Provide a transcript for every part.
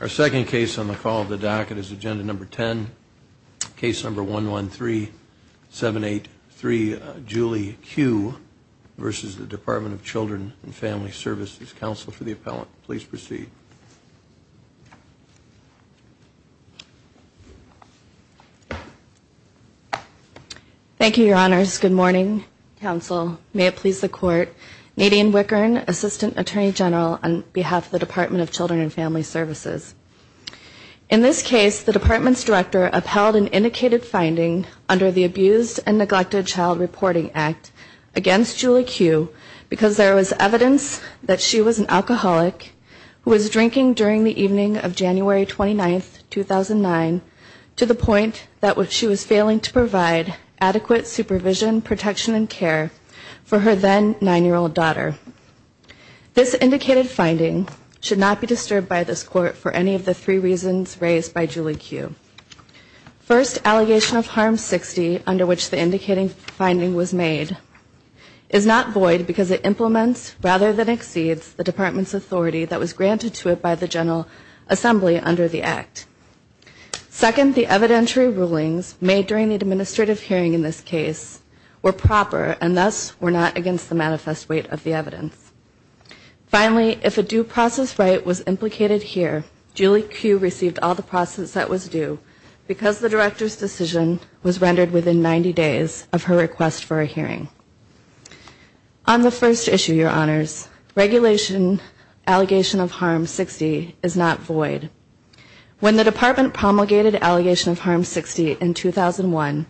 Our second case on the call of the docket is Agenda No. 10, Case No. 113783, Julie Q. v. Department of Children & Family Services. Counsel for the appellant, please proceed. Thank you, Your Honors. Good morning, Counsel. May it please the Court. Nadine Wickern, Assistant Attorney General on behalf of the Department of Children & Family Services. In this case, the Department's Director upheld an indicated finding under the Abused and Neglected Child Reporting Act against Julie Q. because there was evidence that she was an alcoholic who was drinking during the evening of January 29, 2009, to the point that she was failing to provide adequate supervision, protection, and care for her then nine-year-old daughter. This indicated finding should not be disturbed by this Court for any of the three reasons raised by Julie Q. First, allegation of harm 60, under which the indicated finding was made, is not void because it implements rather than exceeds the Department's authority that was granted to it by the General Assembly under the Act. Second, the evidentiary rulings made during the administrative hearing in this case were proper and thus were not against the manifest weight of the evidence. Finally, if a due process right was implicated here, Julie Q. received all the process that was due because the Director's decision was rendered within 90 days of her request for a hearing. On the first issue, Your Honors, regulation, allegation of harm 60, is not void. When the Department promulgated allegation of harm 60 in 2001,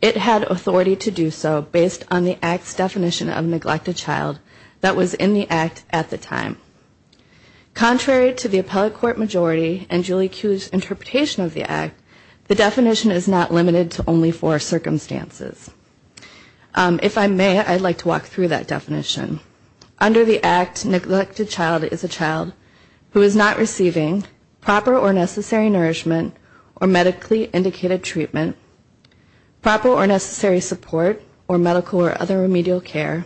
it had authority to do so based on the Act's definition of neglected child that was in the Act at the time. Contrary to the appellate court majority and Julie Q.'s interpretation of the Act, the definition is not limited to only four circumstances. If I may, I'd like to walk through that definition. Under the Act, neglected child is a child who is not receiving proper or necessary nourishment or medically indicated treatment, proper or necessary support or medical or other remedial care,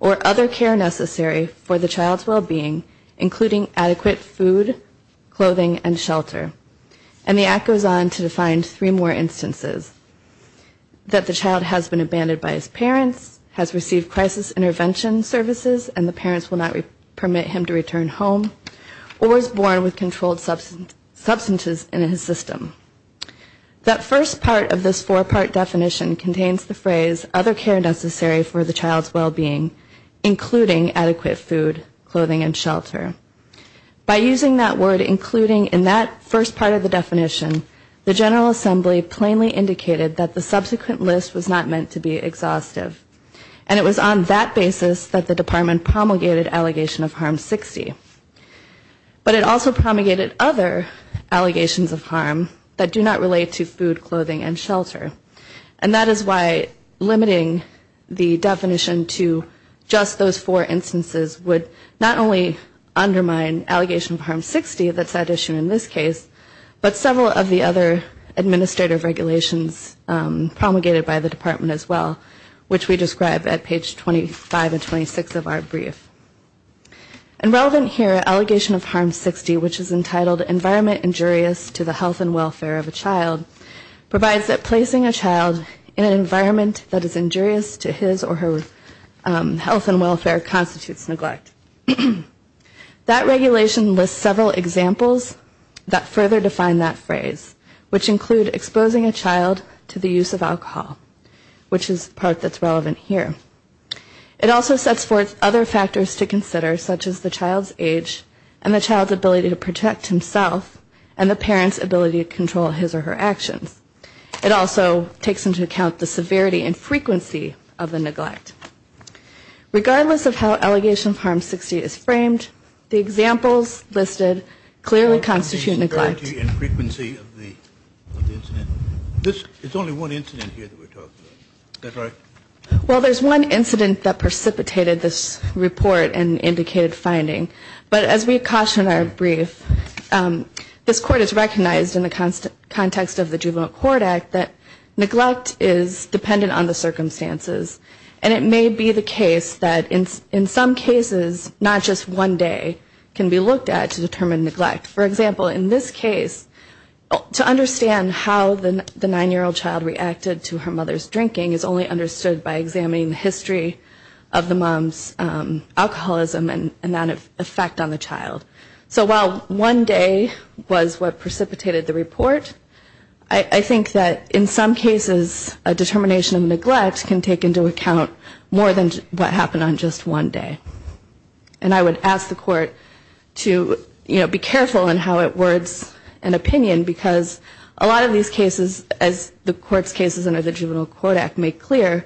or other care necessary for the child's well-being, including adequate food, clothing, and shelter. And the Act goes on to define three more instances, that the child has been abandoned by his parents, has received crisis intervention services and the parents will not permit him to return home, or is born with controlled substances in his system. That first part of this four-part definition contains the phrase, other care necessary for the child's well-being, including adequate food, clothing, and shelter. By using that word, including, in that first part of the definition, the General Assembly plainly indicated that the subsequent list was not meant to be exhaustive. And it was on that basis that the Department promulgated allegation of harm 60. That is why limiting the definition to just those four instances would not only undermine allegation of harm 60, that's at issue in this case, but several of the other administrative regulations promulgated by the Department as well, which we describe at page 25 and 26 of our brief. And relevant here, allegation of harm 60, which is entitled environment injurious to the health and welfare of a child, provides that placing a child in an environment that is injurious to his or her health and welfare constitutes neglect. That regulation lists several examples that further define that phrase, which include exposing a child to the use of alcohol, which is the other factors to consider, such as the child's age and the child's ability to protect himself and the parent's ability to control his or her actions. It also takes into account the severity and frequency of the neglect. Regardless of how allegation of harm 60 is framed, the examples listed clearly constitute neglect. And it may be the case that in some cases, not just one day can be looked at to determine neglect. For example, in this case, neglect is not just one day, it's multiple days. To understand how the nine-year-old child reacted to her mother's drinking is only understood by examining the history of the mom's alcoholism and that effect on the child. So while one day was what precipitated the report, I think that in some cases a determination of neglect can take into account more than what happened on just one day. And I would ask the court to, you know, be careful in how it words an opinion, because a lot of these cases, as the court's cases under the Juvenile Court Act make clear,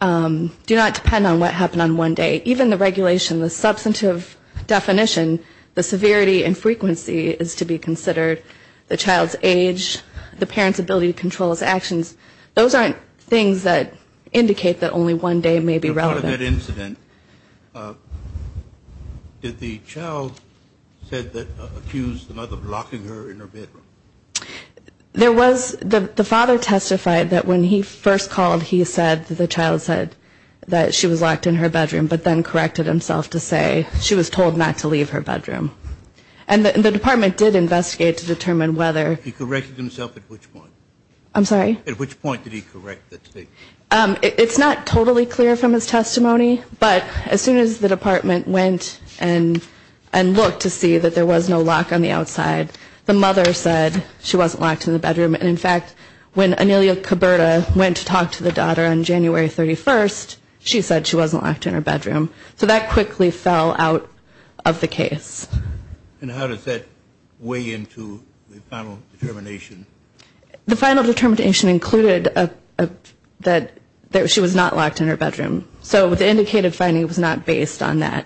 do not depend on what happened on one day. Even the regulation, the substantive definition, the severity and frequency is to be considered, the child's age, the parent's ability to control his actions. Those aren't things that indicate that only one day may be relevant. There was, the father testified that when he first called, he said that the child said that she was locked in her bedroom, but then corrected himself to say she was told not to leave her bedroom. And the department did investigate to determine whether He corrected himself at which point? I'm sorry? At which point did he correct that statement? It's not totally clear from his testimony, but as soon as the department went and looked to see that there was no lock on the outside, the mother said she wasn't locked in the bedroom. And in fact, when Anelia Coberta went to talk to the daughter on January 31st, she said she wasn't locked in her bedroom. So that quickly fell out of the case. And how does that weigh into the final determination? The final determination included that she was not locked in her bedroom. So the indicated finding was not based on that,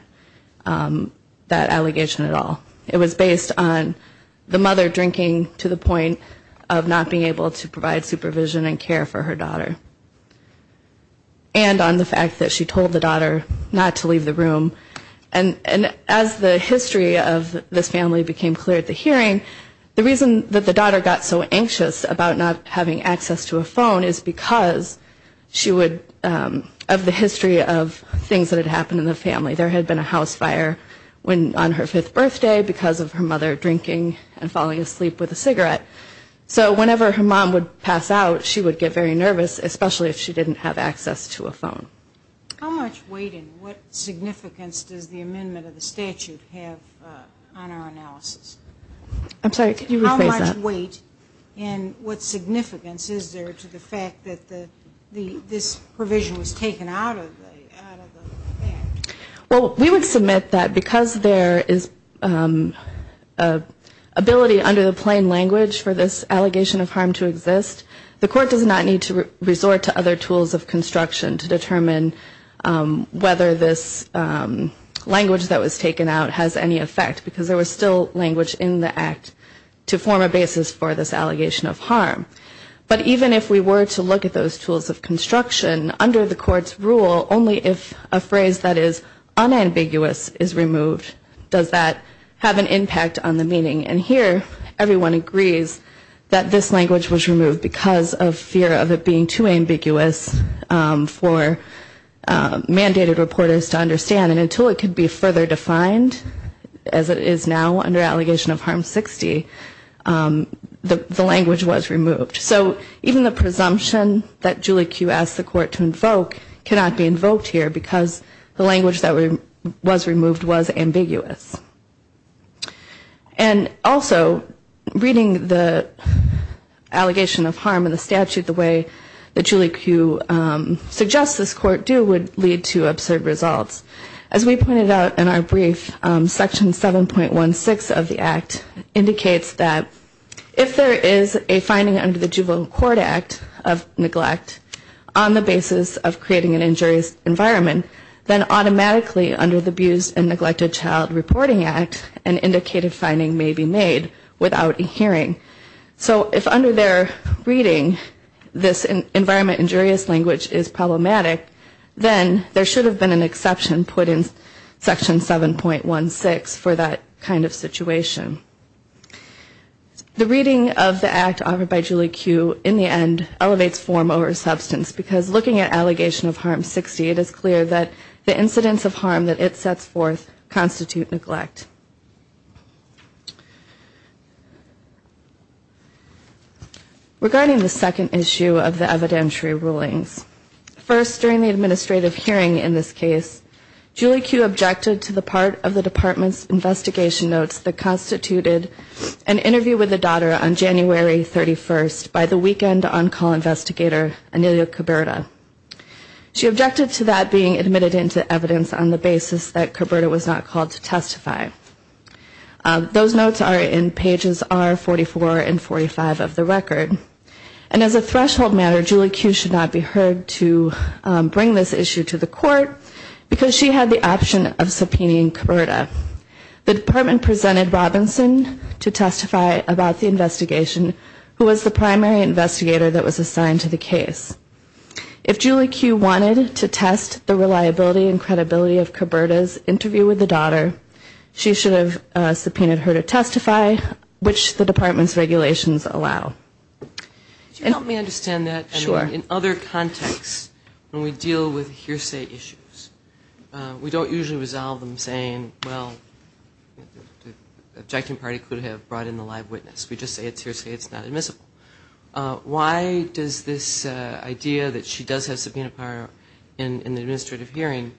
that allegation at all. It was based on the mother drinking to the point of not being able to provide supervision and care for her daughter. And on the fact that she was not locked in her bedroom, the history of this family became clear at the hearing. The reason that the daughter got so anxious about not having access to a phone is because she would, of the history of things that had happened in the family. There had been a house fire on her fifth birthday because of her mother drinking and falling asleep with a cigarette. So whenever her mom would pass out, she would get very nervous, especially if she didn't have access to a phone. How much weight and what significance does the amendment of the statute have on our analysis? I'm sorry, could you rephrase that? How much weight and what significance is there to the fact that this provision was taken out of the act? Well, we would submit that because there is ability under the plain language for this allegation of harm to exist, the Court does not need to resort to other tools of construction to determine whether this language that was taken out has any effect, because there was still language in the act to form a basis for this allegation of harm. But even if we were to look at those tools of construction under the Court's rule, only if a phrase that is unambiguous is removed does that have an impact on the meaning. And here, everyone agrees that this language was removed because of fear of it being too ambiguous for mandated reporters to understand. And until it could be further defined, as it is now under allegation of harm 60, the language was removed. So even the presumption that Julie Kew asked the Court to invoke cannot be invoked here, because the language that was removed was ambiguous. And also, reading the allegation of harm in the statute the way that Julie Kew suggests this Court do would lead to absurd results. As we pointed out in our brief, Section 7.16 of the act indicates that if there is a finding under the Juvenile Court Act of neglect on the basis of creating an injurious environment, then automatically under the Abused and Neglected Child Report Act, the Court would have to make a reporting act and indicated finding may be made without a hearing. So if under their reading, this environment injurious language is problematic, then there should have been an exception put in Section 7.16 for that kind of situation. The reading of the act offered by Julie Kew in the end elevates form over substance, because looking at allegation of harm 60, it is clear that the incidents of harm that it sets forth constitute neglect. Regarding the second issue of the evidentiary rulings, first during the administrative hearing in this case, Julie Kew objected to the part of the Department's investigation notes that constituted an interview with the daughter on January 31st by the weekend on-call investigator, Anelia Coberta. She objected to that being admitted into evidence on the basis that Coberta was not called to testify. Those notes are in pages R44 and 45 of the record. And as a threshold matter, Julie Kew should not be heard to bring this issue to the Court, because she had the option of subpoenaing Coberta. The Department presented Robinson to testify about the investigation, who was the primary investigator that was assigned to the case. If Julie Kew wanted to test the reliability and credibility of Coberta's interview with the daughter, she should have subpoenaed her to testify, which the Department's regulations allow. Julie Kew, Chief Justice of the U.S. Supreme Court, I mean, in other contexts, when we deal with hearsay issues, we don't usually resolve them saying, well, the objecting party could have brought in the live witness. We just say it's hearsay, it's not admissible. Why does this idea that she does have subpoena power in the administrative hearing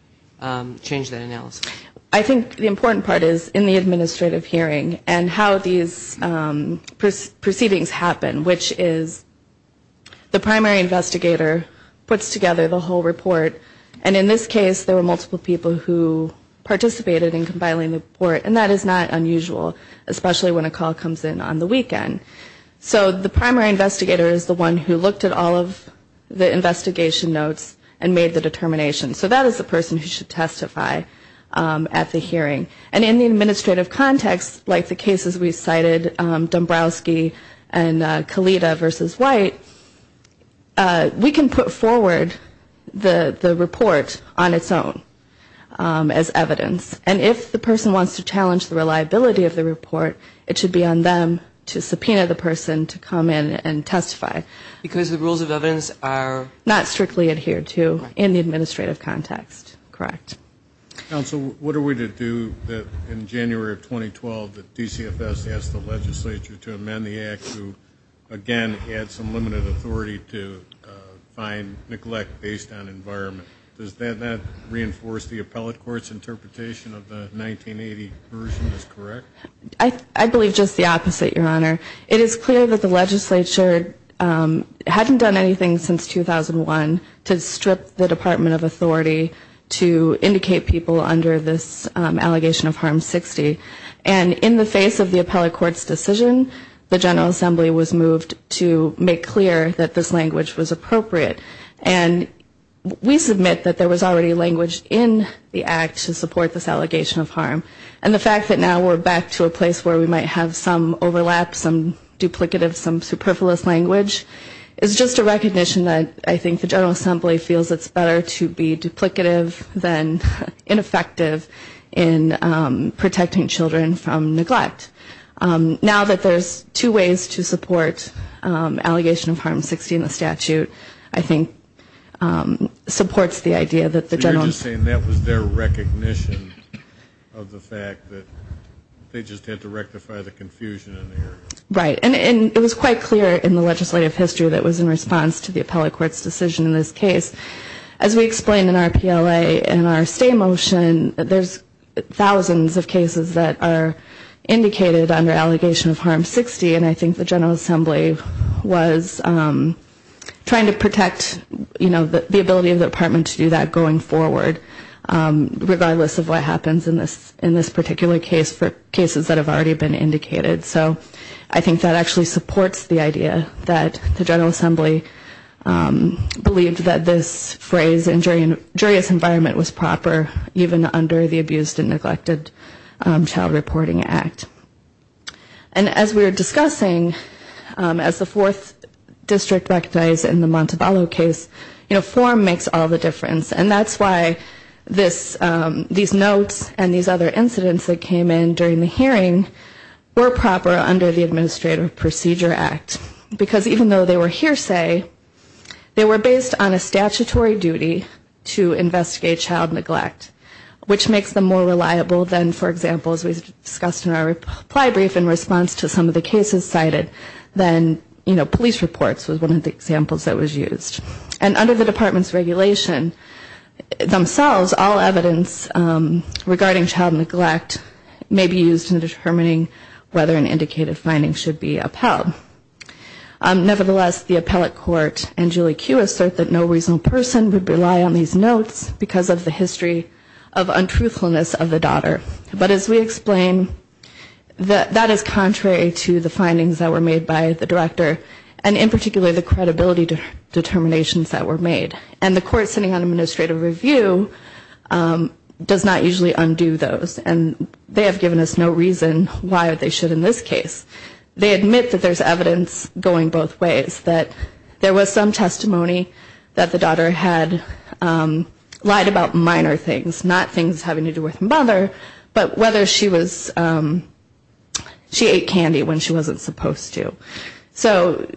change that analysis? Julie Kew, Chief Justice of the U.S. Supreme Court, I think the important part is in the administrative hearing and how these proceedings happen, which is the primary investigator puts together the whole report, and in this case, there were multiple people who participated in compiling the report, and that is not unusual, especially when a call comes in on the weekend. So the primary investigator is the one who looked at all of the investigation notes and made the determination. So that is the person who should testify at the hearing. And in the administrative context, like the cases we cited, Dombrowski and Kalita v. White, we can put forward the report on its own as evidence. And if the person wants to challenge the reliability of the report, it should be on them to subpoena it. It should be on the subpoena of the person to come in and testify. Because the rules of evidence are not strictly adhered to in the administrative context, correct? Counsel, what are we to do in January of 2012 that DCFS asked the legislature to amend the act to, again, add some limited authority to find neglect based on environment? Does that not reinforce the appellate court's interpretation of the 1980 version is correct? I believe just the opposite, Your Honor. It is clear that the legislature hadn't done anything since 2001 to strip the Department of Authority to indicate people under this allegation of harm 60. And in the face of the appellate court's decision, the General Assembly was moved to make clear that this language was appropriate. And we submit that there was already language in the act to make sure that we're back to a place where we might have some overlap, some duplicative, some superfluous language. It's just a recognition that I think the General Assembly feels it's better to be duplicative than ineffective in protecting children from neglect. Now that there's two ways to support allegation of harm 60 in the statute, I think supports the idea that the General Assembly should be able to do that. I'm just saying that was their recognition of the fact that they just had to rectify the confusion in there. Right. And it was quite clear in the legislative history that was in response to the appellate court's decision in this case. As we explained in our PLA and our stay motion, there's thousands of cases that are indicated under allegation of harm 60, and I think the General Assembly was trying to protect, you know, the ability of the Department to do that going forward. And I think that was the reason that the Department was able to do that going forward, regardless of what happens in this particular case for cases that have already been indicated. So I think that actually supports the idea that the General Assembly believed that this phrase in juryous environment was proper, even under the Abused and Neglected Child Reporting Act. And as we were discussing, as the fourth district recognized in the Montebello case, you know, form makes all the difference. And that's why this, these notes and these other incidents that came in during the hearing were proper under the Administrative Procedure Act. Because even though they were hearsay, they were based on a statutory duty to investigate child neglect, which makes them more reliable than, for example, as we discussed in our reply brief in response to some of the cases cited, than, you know, police reports was one example. And I think that's one of the examples that was used. And under the Department's regulation themselves, all evidence regarding child neglect may be used in determining whether an indicated finding should be upheld. Nevertheless, the appellate court and Julie Kueh assert that no reasonable person would rely on these notes because of the history of untruthfulness of the daughter. But as we explain, that is contrary to the findings that were made by the director, and in particular, the credibility determinations that were made. And the court sitting on administrative review does not usually undo those. And they have given us no reason why they should in this case. They admit that there's evidence going both ways, that there was some testimony that the daughter had lied about minor things, not having anything to do with her mother, but whether she was, she ate candy when she wasn't supposed to. So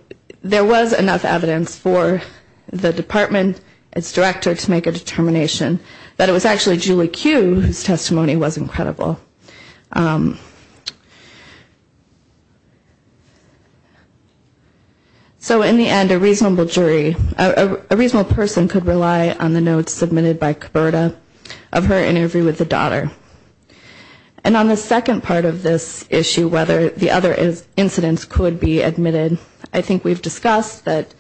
there was enough evidence for the Department, its director, to make a determination that it was actually Julie Kueh whose testimony was incredible. So in the end, a reasonable jury, a reasonable person could rely on the notes submitted by Coberta of her interview with the daughter. And on the second part of this issue, whether the other incidents could be admitted, I think we've discussed that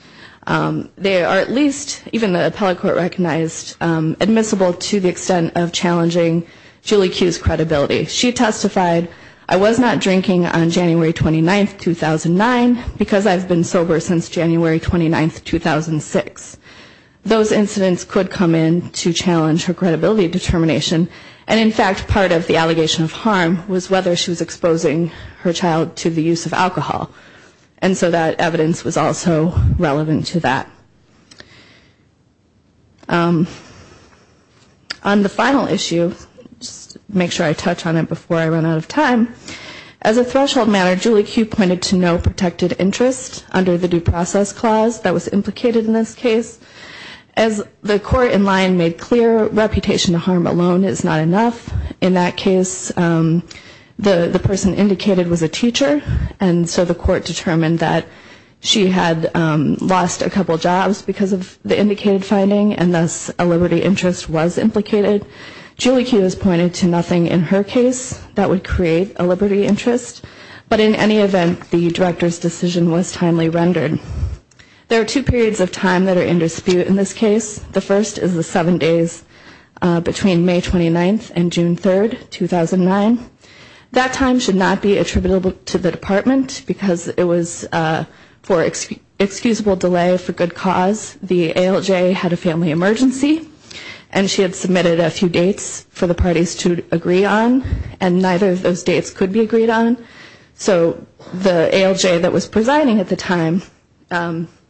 they are at least, even the appellate court recognized, admissible to the extent of challenging Julie Kueh's credibility. She testified, I was not drinking on January 29, 2009, because I've been sober since January 29, 2006. Those incidents could come in to challenge her credibility determination, and in fact, part of the allegation of harm was whether she was exposing her child to the use of alcohol. And so that evidence was also relevant to that. On the final issue, just to make sure I touch on it before I run out of time, as a threshold matter, Julie Kueh pointed to no protected interest under the due process clause that was implicated in this case. As the court in line made clear, reputation to harm alone is not enough. In that case, the person indicated was a teacher, and so the court determined that she had lost a couple jobs because of the indicated finding, and thus a liberty interest was implicated. Julie Kueh has pointed to nothing in her case that would create a liberty interest, but in any event, the director's decision was timely rendered. There are two periods of time that are in dispute in this case. The first is the seven days between the time that the party was presiding, between May 29th and June 3rd, 2009. That time should not be attributable to the department, because it was for excusable delay for good cause. The ALJ had a family emergency, and she had submitted a few dates for the parties to agree on, and neither of those dates could be agreed on. So the ALJ that was presiding at the time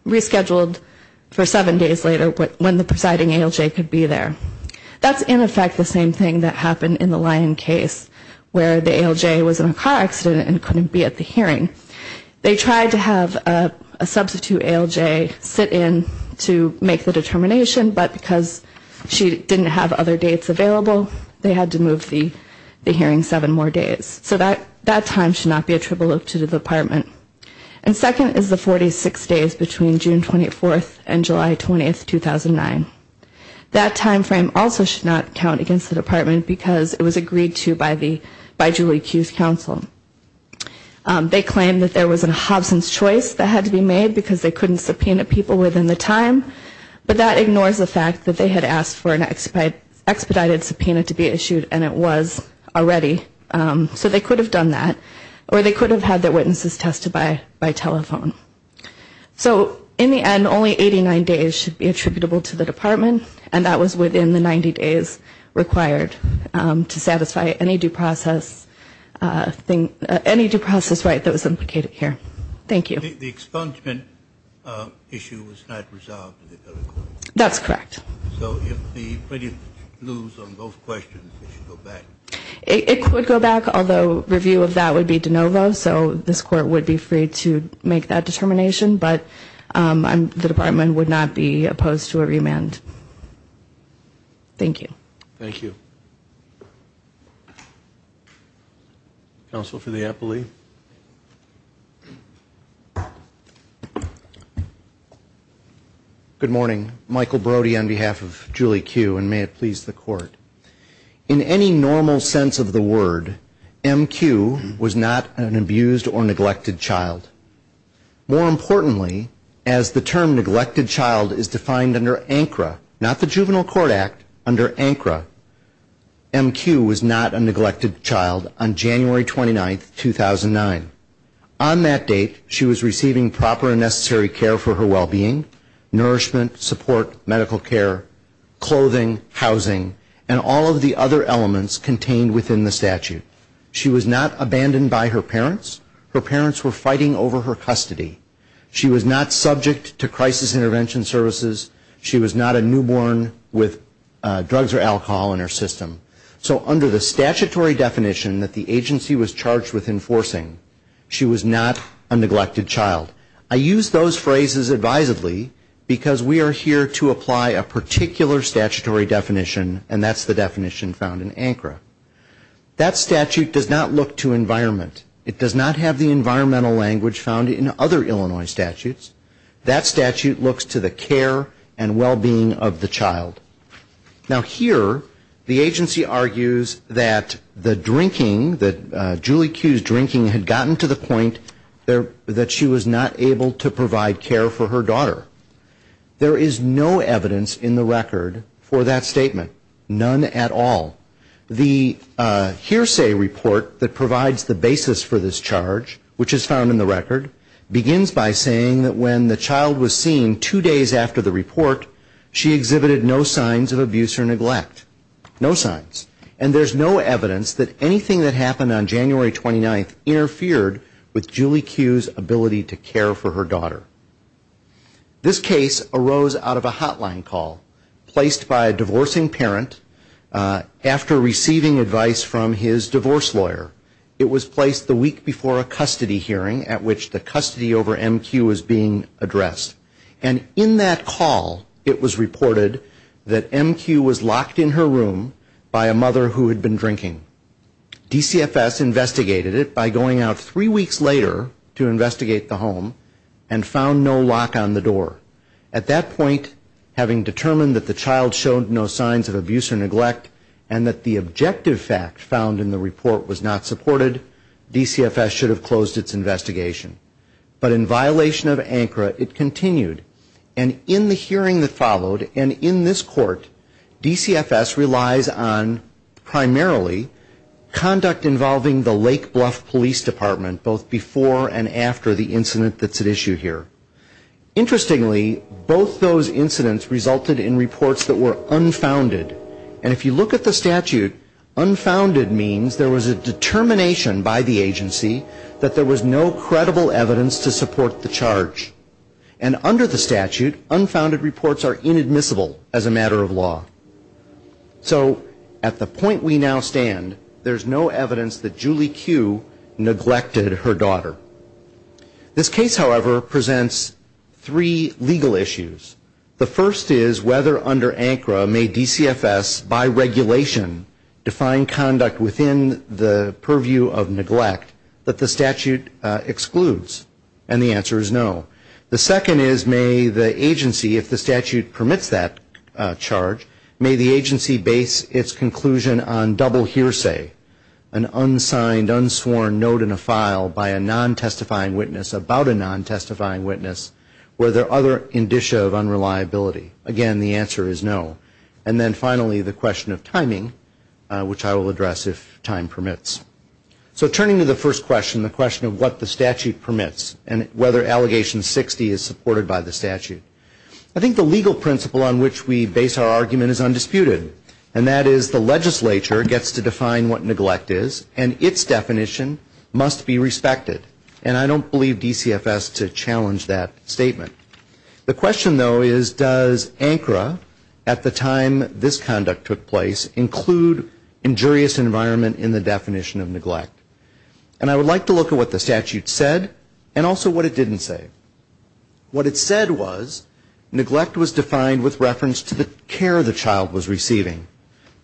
rescheduled for seven days later when the party was presiding, and in fact the same thing that happened in the Lyon case where the ALJ was in a car accident and couldn't be at the hearing. They tried to have a substitute ALJ sit in to make the determination, but because she didn't have other dates available, they had to move the hearing seven more days. So that time should not be attributable to the department. And second is the 46 days between June 24th and July 20th, 2009. That time frame also should not count against the department, because it was agreed to by Julie Q's counsel. They claimed that there was a Hobson's choice that had to be made, because they couldn't subpoena people within the time, but that ignores the fact that they had asked for an expedited subpoena to be issued, and it was already. So they could have done that, or they could have done that. And only 89 days should be attributable to the department, and that was within the 90 days required to satisfy any due process right that was implicated here. Thank you. The expungement issue was not resolved at the court? That's correct. So if the plaintiff lose on both questions, it should go back? It would go back, although review of that would be de novo. So this court would be free to make that determination, but the department would not be opposed to a remand. Thank you. Thank you. Counsel for the appellee. Good morning. Michael Brody on behalf of Julie Q, and may it please the court. In any normal case, the plaintiff would be acquitted. In the general sense of the word, M.Q. was not an abused or neglected child. More importantly, as the term neglected child is defined under ANCRA, not the Juvenile Court Act, under ANCRA, M.Q. was not a neglected child on January 29, 2009. On that date, she was receiving proper and necessary care for her well-being, nourishment, support, medical care, clothing, housing, and all of the other elements contained within the statute. She was not abandoned by her parents. Her parents were fighting over her custody. She was not subject to crisis intervention services. She was not a newborn with drugs or alcohol in her system. So under the statutory definition that the agency was charged with enforcing, she was not a neglected child. I use those phrases advisedly, because we are here to apply a particular statutory definition, and that's the definition found in ANCRA. That statute does not look to environment. It does not have the environmental language found in other Illinois statutes. That statute looks to the care and well-being of the child. Now here, the agency argues that the drinking, that Julie Q's drinking had gotten to the point that she was not able to provide care for her daughter. There is no evidence in the record for that statement. None at all. The hearsay report that provides the basis for this charge, which is found in the record, begins by saying that when the child was seen two days after the report, she exhibited no signs of abuse or neglect. No signs. And there's no evidence that anything that happened on that day was caused by her not being able to care for her daughter. This case arose out of a hotline call placed by a divorcing parent after receiving advice from his divorce lawyer. It was placed the week before a custody hearing at which the custody over MQ was being addressed. And in that call, it was reported that MQ was locked in her room by a mother who had been drinking. DCFS investigated it by going out three weeks later to investigate the home and found no lock on the door. At that point, having determined that the child showed no signs of abuse or neglect and that the objective fact found in the report was not supported, DCFS should have closed its investigation. But in violation of ANCRA, it continued. And in the hearing that followed, and in this court, DCFS relies on primarily conduct involving the Lake Bluff Police Department, both before and after the incident that's at issue here. Interestingly, both those incidents resulted in reports that were unfounded. And if you look at the statute, unfounded means there was a determination by the agency that there was no credible evidence to support the charge. And under the statute, unfounded reports are inadmissible as a matter of law. So at the point we now stand, there's no evidence that Julie Q. neglected her daughter. This case, however, presents three legal issues. The first is whether under ANCRA may DCFS by regulation define conduct within the purview of neglect that the statute excludes. And the answer is no. The second is may the agency, if the statute permits that charge, may the agency base its conclusion on double hearsay, an unsigned, unsworn note in a file by a non-testifying witness about a non-testifying witness. Were there other indicia of unreliability? Again, the answer is no. And then finally, the question of timing, which I will address if time permits. So turning to the first question, the question of what the statute permits and whether delegation 60 is supported by the statute. I think the legal principle on which we base our argument is undisputed. And that is the legislature gets to define what neglect is, and its definition must be respected. And I don't believe DCFS to challenge that statement. The question, though, is does ANCRA, at the time this conduct took place, include injurious environment in the definition of neglect? And I would like to look at what the statute said and also what it didn't say. What it said was neglect was defined with reference to the care the child was receiving.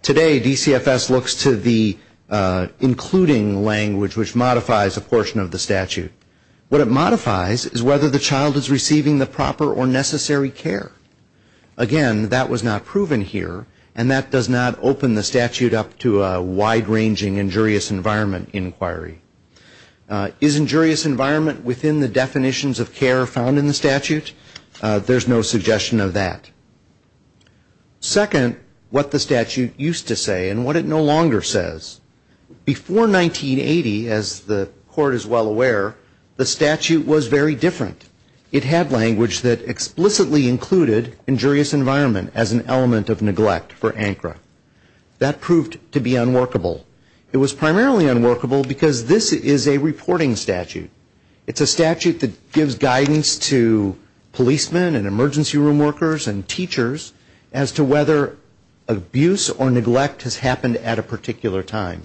Today DCFS looks to the including language, which modifies a portion of the statute. What it modifies is whether the child is receiving the proper or necessary care. Again, that was not proven here, and that does not open the statute up to a wide-ranging injurious environment inquiry. Is injurious environment within the definitions of care found in the statute? There's no suggestion of that. Second, what the statute used to say and what it no longer says. Before 1980, as the Court is well aware, the statute was very different. It had language that explicitly included injurious environment as an element of neglect for ANCRA. That proved to be unworkable. It was primarily unworkable because this is a reporting statute. It's a statute that gives guidance to policemen and emergency room workers and teachers as to whether abuse or neglect has happened at a particular time.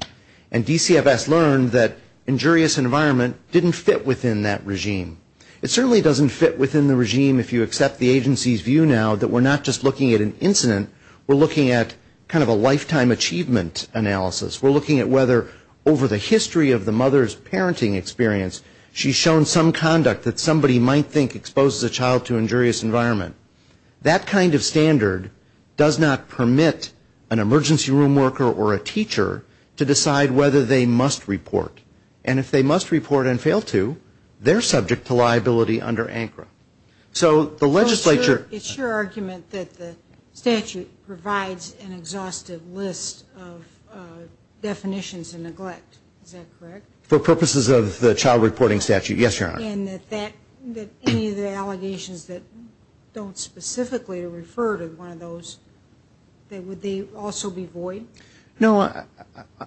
And DCFS learned that injurious environment didn't fit within that regime. It certainly doesn't fit within the regime, if you accept the agency's view now, that we're not just looking at an incident. We're looking at kind of a lifetime achievement analysis. We're looking at whether over the history of the mother's parenting experience, she's shown some conduct that somebody might think exposes a child to injurious environment. That kind of standard does not permit an emergency room worker or a teacher to decide whether they must report. And if they must report and fail to, they're subject to liability under ANCRA. So the legislature It's your argument that the statute provides an exhaustive list of definitions of neglect. Is that correct? For purposes of the child reporting statute, yes, Your Honor. And that any of the allegations that don't specifically refer to one of those, would they also be void? No,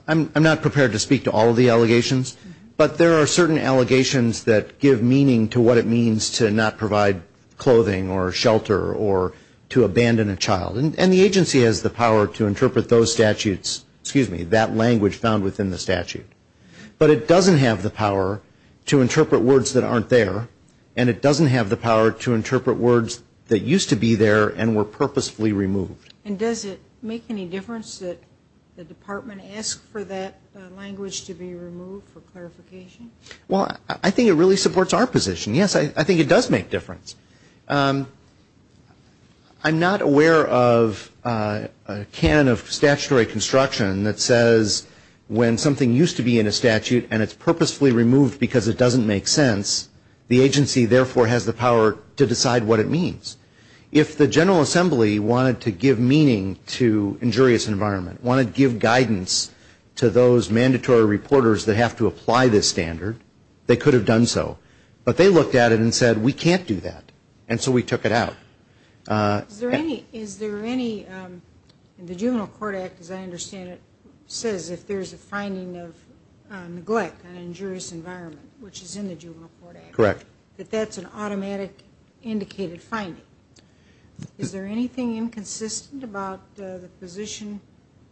I'm not prepared to speak to all of the allegations. But there are certain allegations that give meaning to what it means to not provide clothing or shelter or to abandon a child. And the agency has the power to interpret those statutes, excuse me, that language found within the statute. But it doesn't have the power to interpret words that aren't there. And it doesn't have the power to interpret words that used to be there and were purposefully removed. And does it make any difference that the department asks for that language to be removed for clarification? Well, I think it really supports our position. Yes, I think it does make a difference. I'm not aware of a canon of statutory construction that says when something used to be in a statute and it's purposefully removed because it doesn't make sense, the agency therefore has the power to decide what it means. If the General Assembly wanted to give meaning to injurious environment, wanted to give guidance to those mandatory reporters that have to meet the standard, they could have done so. But they looked at it and said, we can't do that. And so we took it out. Is there any, the Juvenile Court Act, as I understand it, says if there's a finding of neglect on injurious environment, which is in the Juvenile Court Act, that that's an automatic indicated finding. Is there anything inconsistent about the position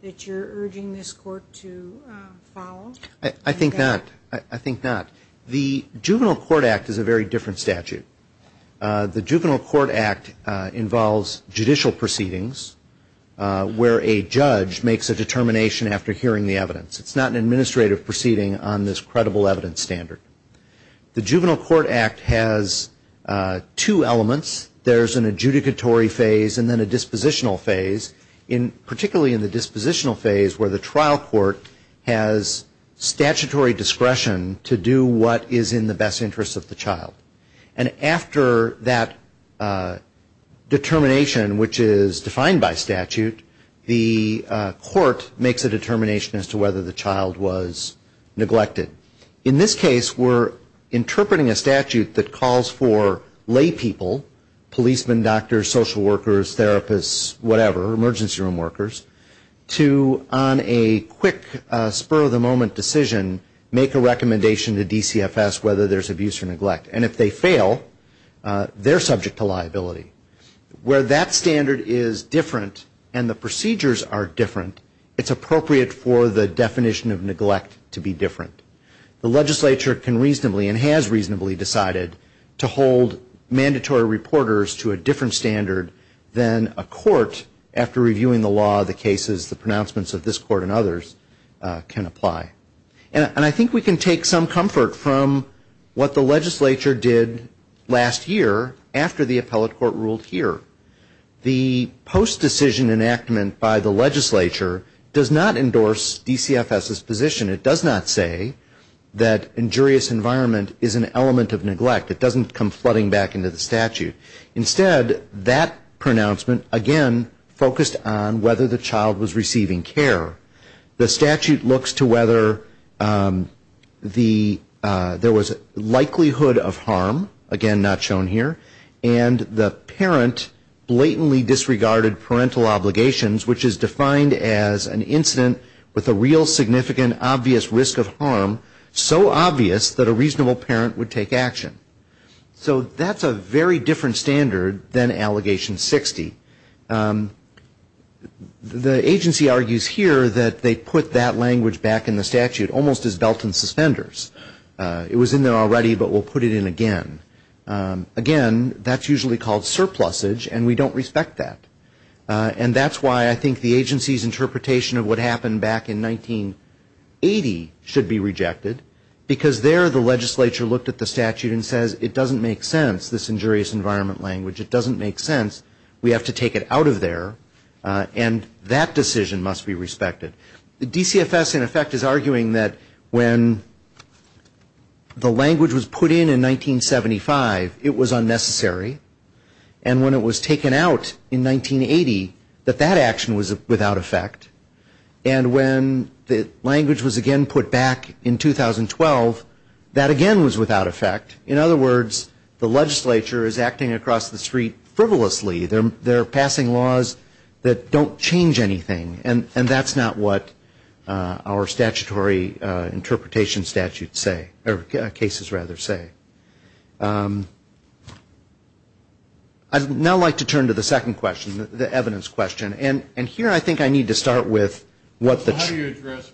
that you're urging this court to follow? I think not. I think not. The Juvenile Court Act is a very different statute. The Juvenile Court Act involves judicial proceedings where a judge makes a determination after hearing the evidence. It's not an administrative proceeding on this credible evidence standard. The Juvenile Court Act has two elements. There's an adjudicatory phase and then a dispositional phase, particularly in the dispositional phase where the trial court has statutory discretion to do what is in the best interest of the child. And after that determination, which is defined by statute, the court makes a determination as to whether the child was neglected. In this case, we're interpreting a statute that calls for lay people, policemen, doctors, social workers, therapists, whatever, emergency room workers, to on a quick spur of the moment decision, make a recommendation to DCFS whether there's abuse or neglect. And if they fail, they're subject to liability. Where that standard is different and the procedures are different, it's appropriate for the definition of neglect to be different. The legislature can reasonably and has reasonably decided to hold mandatory reporters to a different standard than a court, after reviewing the law, the cases, the pronouncements of this court and others, can apply. And I think we can take some comfort from what the legislature did last year after the appellate court ruled here. The post-decision enactment by the legislature does not endorse DCFS's position. It does not say that injurious environment is an element of neglect. It doesn't come flooding back into the statute. Instead, that pronouncement, again, focused on whether the child was receiving care. The statute looks to whether there was likelihood of harm, again, not shown here, and the parent blatantly disregarded parental obligations, which is defined as an incident with a real significant obvious risk of harm, so obvious that a reasonable parent would take action. So that's a very different standard than Allegation 60. The agency argues here that they put that language back in the statute almost as belt and suspenders. It was in there already, but we'll put it in again. Again, that's usually called surplusage, and we don't respect that. And that's why I think the agency's interpretation of what happened back in 1980 should be rejected, because there the legislature looked at the statute and said, it doesn't make sense, this injurious environment language. It doesn't make sense. We have to take it out of there, and that decision must be respected. DCFS, in effect, is arguing that when the language was put in in 1975, it was unnecessary, and when it was taken out in 1980, that that action was without effect. And when the language was again put back in 2012, that again was without effect. In other words, the legislature is acting across the street frivolously. They're passing laws that don't change anything, and that's not what our statutory interpretation statutes say, or cases rather say. I'd now like to turn to the second question, the evidence question. And here I think I need to start with what the question was.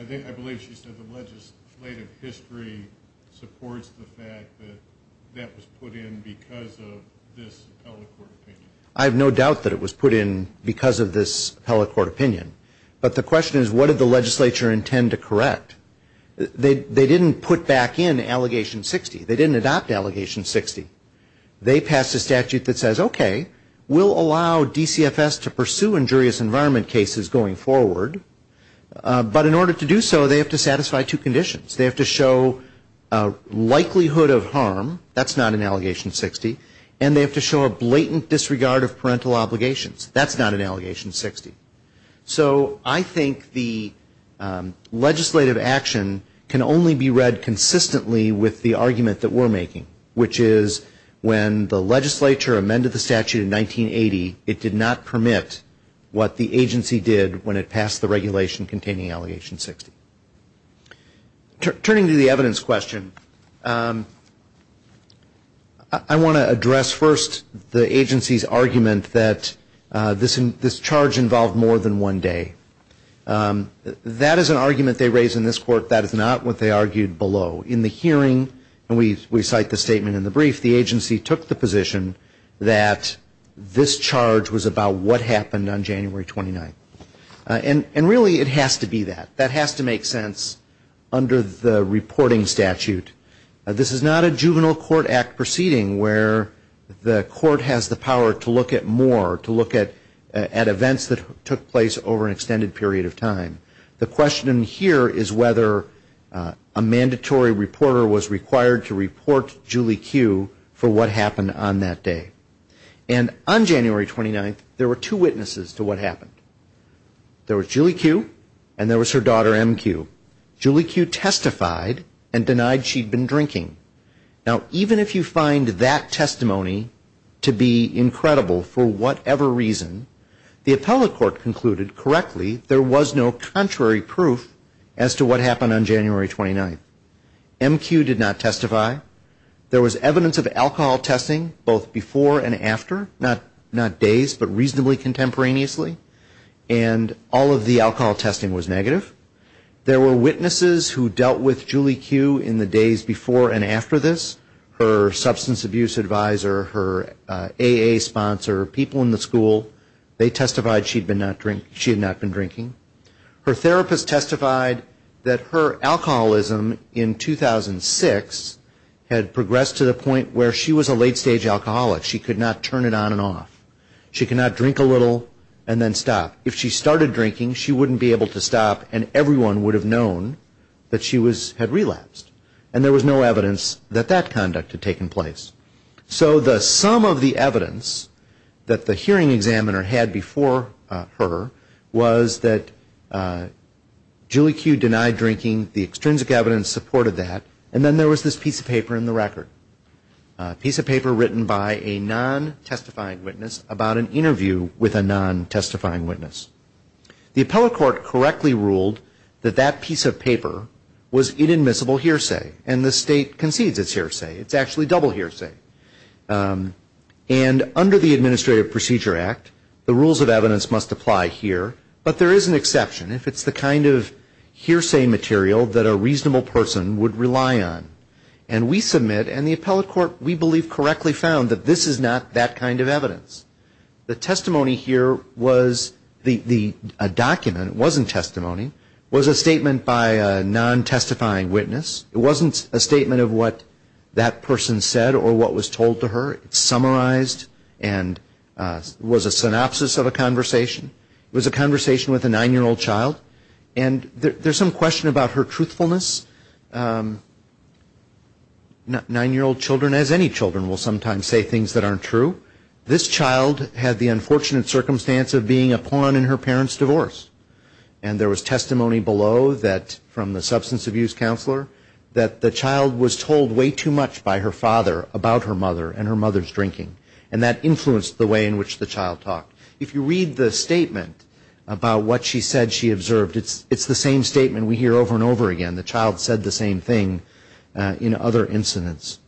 I think I believe she said the legislative history supports the fact that that was put in because of this appellate court opinion. I have no doubt that it was put in because of this appellate court opinion. But the question is, what did the legislature intend to correct? They didn't put back in Allegation 60. They didn't adopt Allegation 60. They passed a statute that was that says, okay, we'll allow DCFS to pursue injurious environment cases going forward. But in order to do so, they have to satisfy two conditions. They have to show a likelihood of harm. That's not in Allegation 60. And they have to show a blatant disregard of parental obligations. That's not in Allegation 60. So I think the legislative action can only be read consistently with the argument that we're making, which is when the legislature amended the statute in 1980, it did not permit what the agency did when it passed the regulation containing Allegation 60. Turning to the evidence question, I want to address first the agency's argument that this charge involved more than one day. That is an argument that, as we cite the statement in the brief, the agency took the position that this charge was about what happened on January 29th. And really, it has to be that. That has to make sense under the reporting statute. This is not a juvenile court act proceeding where the court has the power to look at more, to look at events that took place over an extended period of time. The agency did not report Julie Q for what happened on that day. And on January 29th, there were two witnesses to what happened. There was Julie Q and there was her daughter MQ. Julie Q testified and denied she'd been drinking. Now, even if you find that testimony to be incredible for whatever reason, the appellate court concluded correctly there was no contrary proof as to what happened on January 29th. There was evidence of alcohol testing both before and after, not days, but reasonably contemporaneously. And all of the alcohol testing was negative. There were witnesses who dealt with Julie Q in the days before and after this. Her substance abuse advisor, her AA sponsor, people in the school, they testified she had not been drinking. Her therapist testified that her substance abuse had progressed to the point where she was a late-stage alcoholic. She could not turn it on and off. She could not drink a little and then stop. If she started drinking, she wouldn't be able to stop and everyone would have known that she had relapsed. And there was no evidence that that conduct had taken place. So the sum of the evidence that the hearing examiner had before her was that Julie Q denied drinking. The extrinsic evidence supported that. And then there was this piece of paper in the record, a piece of paper written by a non-testifying witness about an interview with a non-testifying witness. The appellate court correctly ruled that that piece of paper was inadmissible hearsay. And the state concedes it's hearsay. It's actually double hearsay. And under the Administrative Procedure Act, the rules of evidence must apply here. But there is an exception if it's the kind of evidence that Julie Q denied. And the appellate court, we believe, correctly found that this is not that kind of evidence. The testimony here was a document. It wasn't testimony. It was a statement by a non-testifying witness. It wasn't a statement of what that person said or what was told to her. It's summarized and was a synopsis of a conversation. It was a conversation with a 9-year-old child. And there's some question about her truthfulness. Nine-year-old children, as any children, will sometimes say things that aren't true. This child had the unfortunate circumstance of being a pawn in her parents' divorce. And there was testimony below that from the substance abuse counselor that the child was told way too much by her father about her mother and her mother's drinking. And that influenced the way in which the child talked. And it's the same statement we hear over and over again. The child said the same thing in other incidents.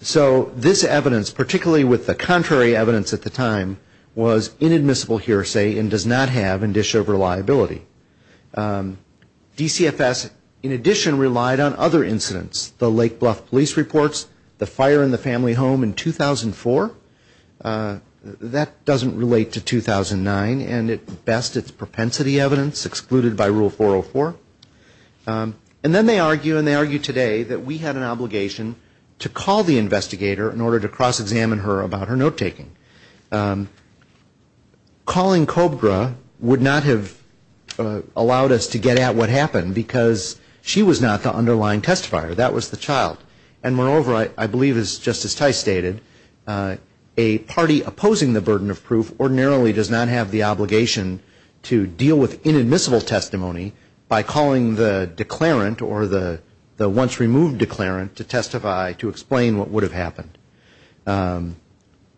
So this evidence, particularly with the contrary evidence at the time, was inadmissible hearsay and does not have in-dish-over liability. DCFS, in addition, relied on other incidents. The Lake Bluff Police Reports, the fire in the family home in 2004. That doesn't relate to 2009. And at best, it's propensity evidence, excluded by Rule 404. And then they argue, and they argue today, that we had an obligation to call the investigator in order to cross-examine her about her note-taking. Calling Cobra would not have allowed us to get at what happened, because she was not the underlying testifier. That was the child. And moreover, I believe, as Justice Tice stated, a party opposing the burden of testimony is a party opposing the burden of proof, ordinarily does not have the obligation to deal with inadmissible testimony by calling the declarant or the once removed declarant to testify to explain what would have happened.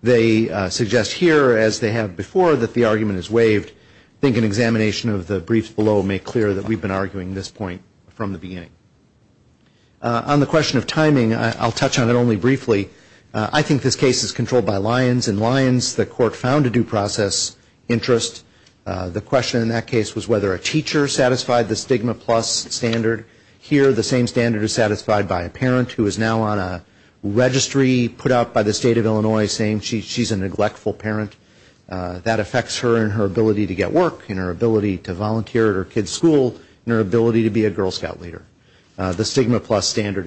They suggest here, as they have before, that the argument is waived. I think an examination of the briefs below may clear that we've gotten to that point. On the question of timing, I'll touch on it only briefly. I think this case is controlled by Lyons. In Lyons, the court found a due process interest. The question in that case was whether a teacher satisfied the stigma plus standard. Here, the same standard is satisfied by a parent who is now on a registry put out by the State of Illinois saying she's a neglectful parent. That affects her and her ability to meet the stigma plus standard.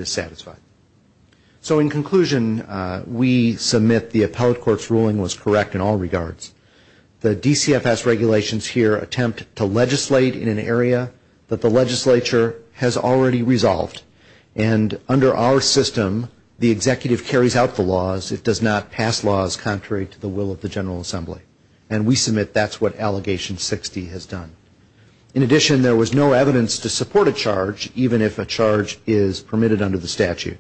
So in conclusion, we submit the appellate court's ruling was correct in all regards. The DCFS regulations here attempt to legislate in an area that the legislature has already resolved. And under our system, the executive carries out the laws. It does not pass laws contrary to the will of the General Assembly. And we submit that's what Allegation 60 has done. In addition, there was no evidence to support a charge even if a charge is permitted under the statute.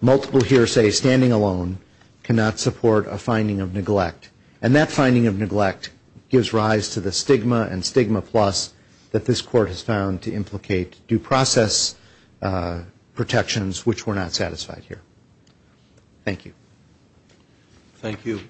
Multiple hearsay standing alone cannot support a finding of neglect. And that finding of neglect gives rise to the stigma and stigma plus that this court has found to implicate due process protections which were not satisfied here. Thank you. Thank you.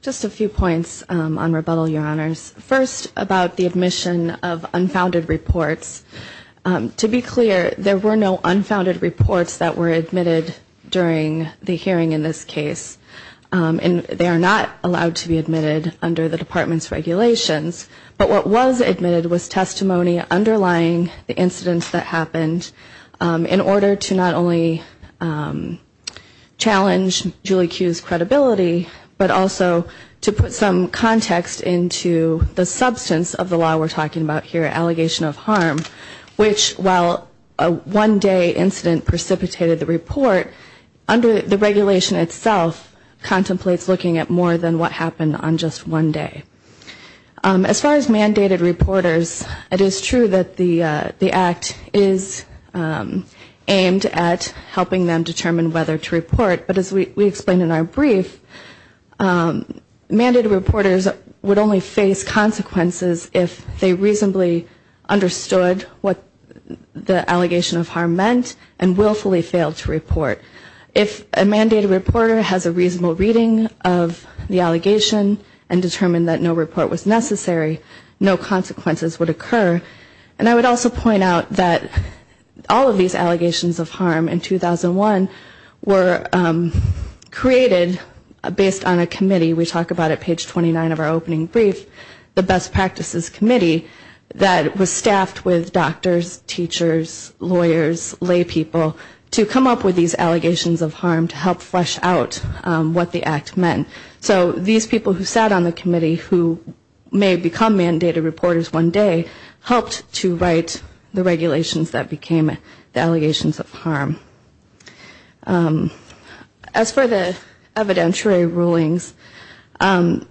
Just a few points on rebuttal, Your Honors. First, about the admission of unfounded reports. To be clear, there were no unfounded reports that were admitted during the hearing in this case. And they are not allowed to be admitted under the Department's regulations. But what was admitted was testimony underlying the incidents that happened in order to not only address the challenge, Julie Kuh's credibility, but also to put some context into the substance of the law we're talking about here, Allegation of Harm, which while a one-day incident precipitated the report, under the regulation itself contemplates looking at more than what happened on just one day. As far as mandated reporters, it is true that the Act is aimed at helping them to be able to report on a one-day incident. But it is not intended to help them determine whether to report. But as we explained in our brief, mandated reporters would only face consequences if they reasonably understood what the Allegation of Harm meant and willfully failed to report. If a mandated reporter has a reasonable reading of the allegation and determined that no report was necessary, no consequences would occur. And so these people who sat on the committee, who may become mandated reporters one day, helped to write the regulations that became the law. As for the evidentiary rulings, as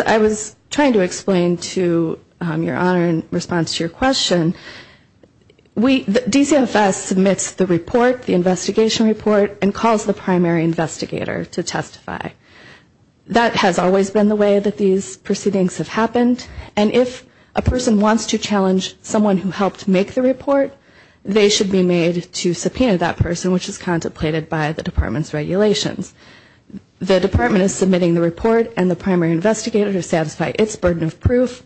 I was trying to explain to your Honor in response to your question, DCFS submits the report, the investigation report, and calls the primary investigator to testify. That has always been the way that these proceedings have happened. And if a person wants to challenge someone who helped make the report, they should be made to subpoena that person, which is contemplated by the Department's regulations. The Department is submitting the report and the primary investigator to satisfy its burden of proof.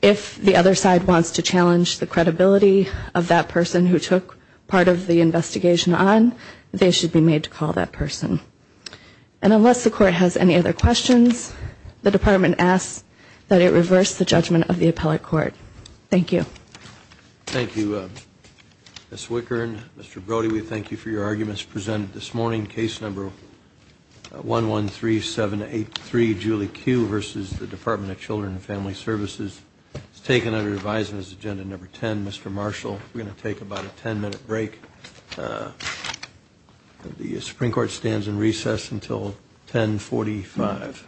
If the other side wants to challenge the credibility of that person who took part of the investigation on, they should be made to call that person. And unless the Court has any other questions, the Department asks that it reverse the judgment of the appellate court. Thank you. Thank you, Ms. Wickern. Mr. Brody, we thank you for your arguments presented this morning. Case number 113783, Julie Q. versus the Department of Children and Family Services is taken under revised as agenda number 10. Mr. Marshall, we're going to take about a 10-minute break. The Supreme Court stands in recess until 1045.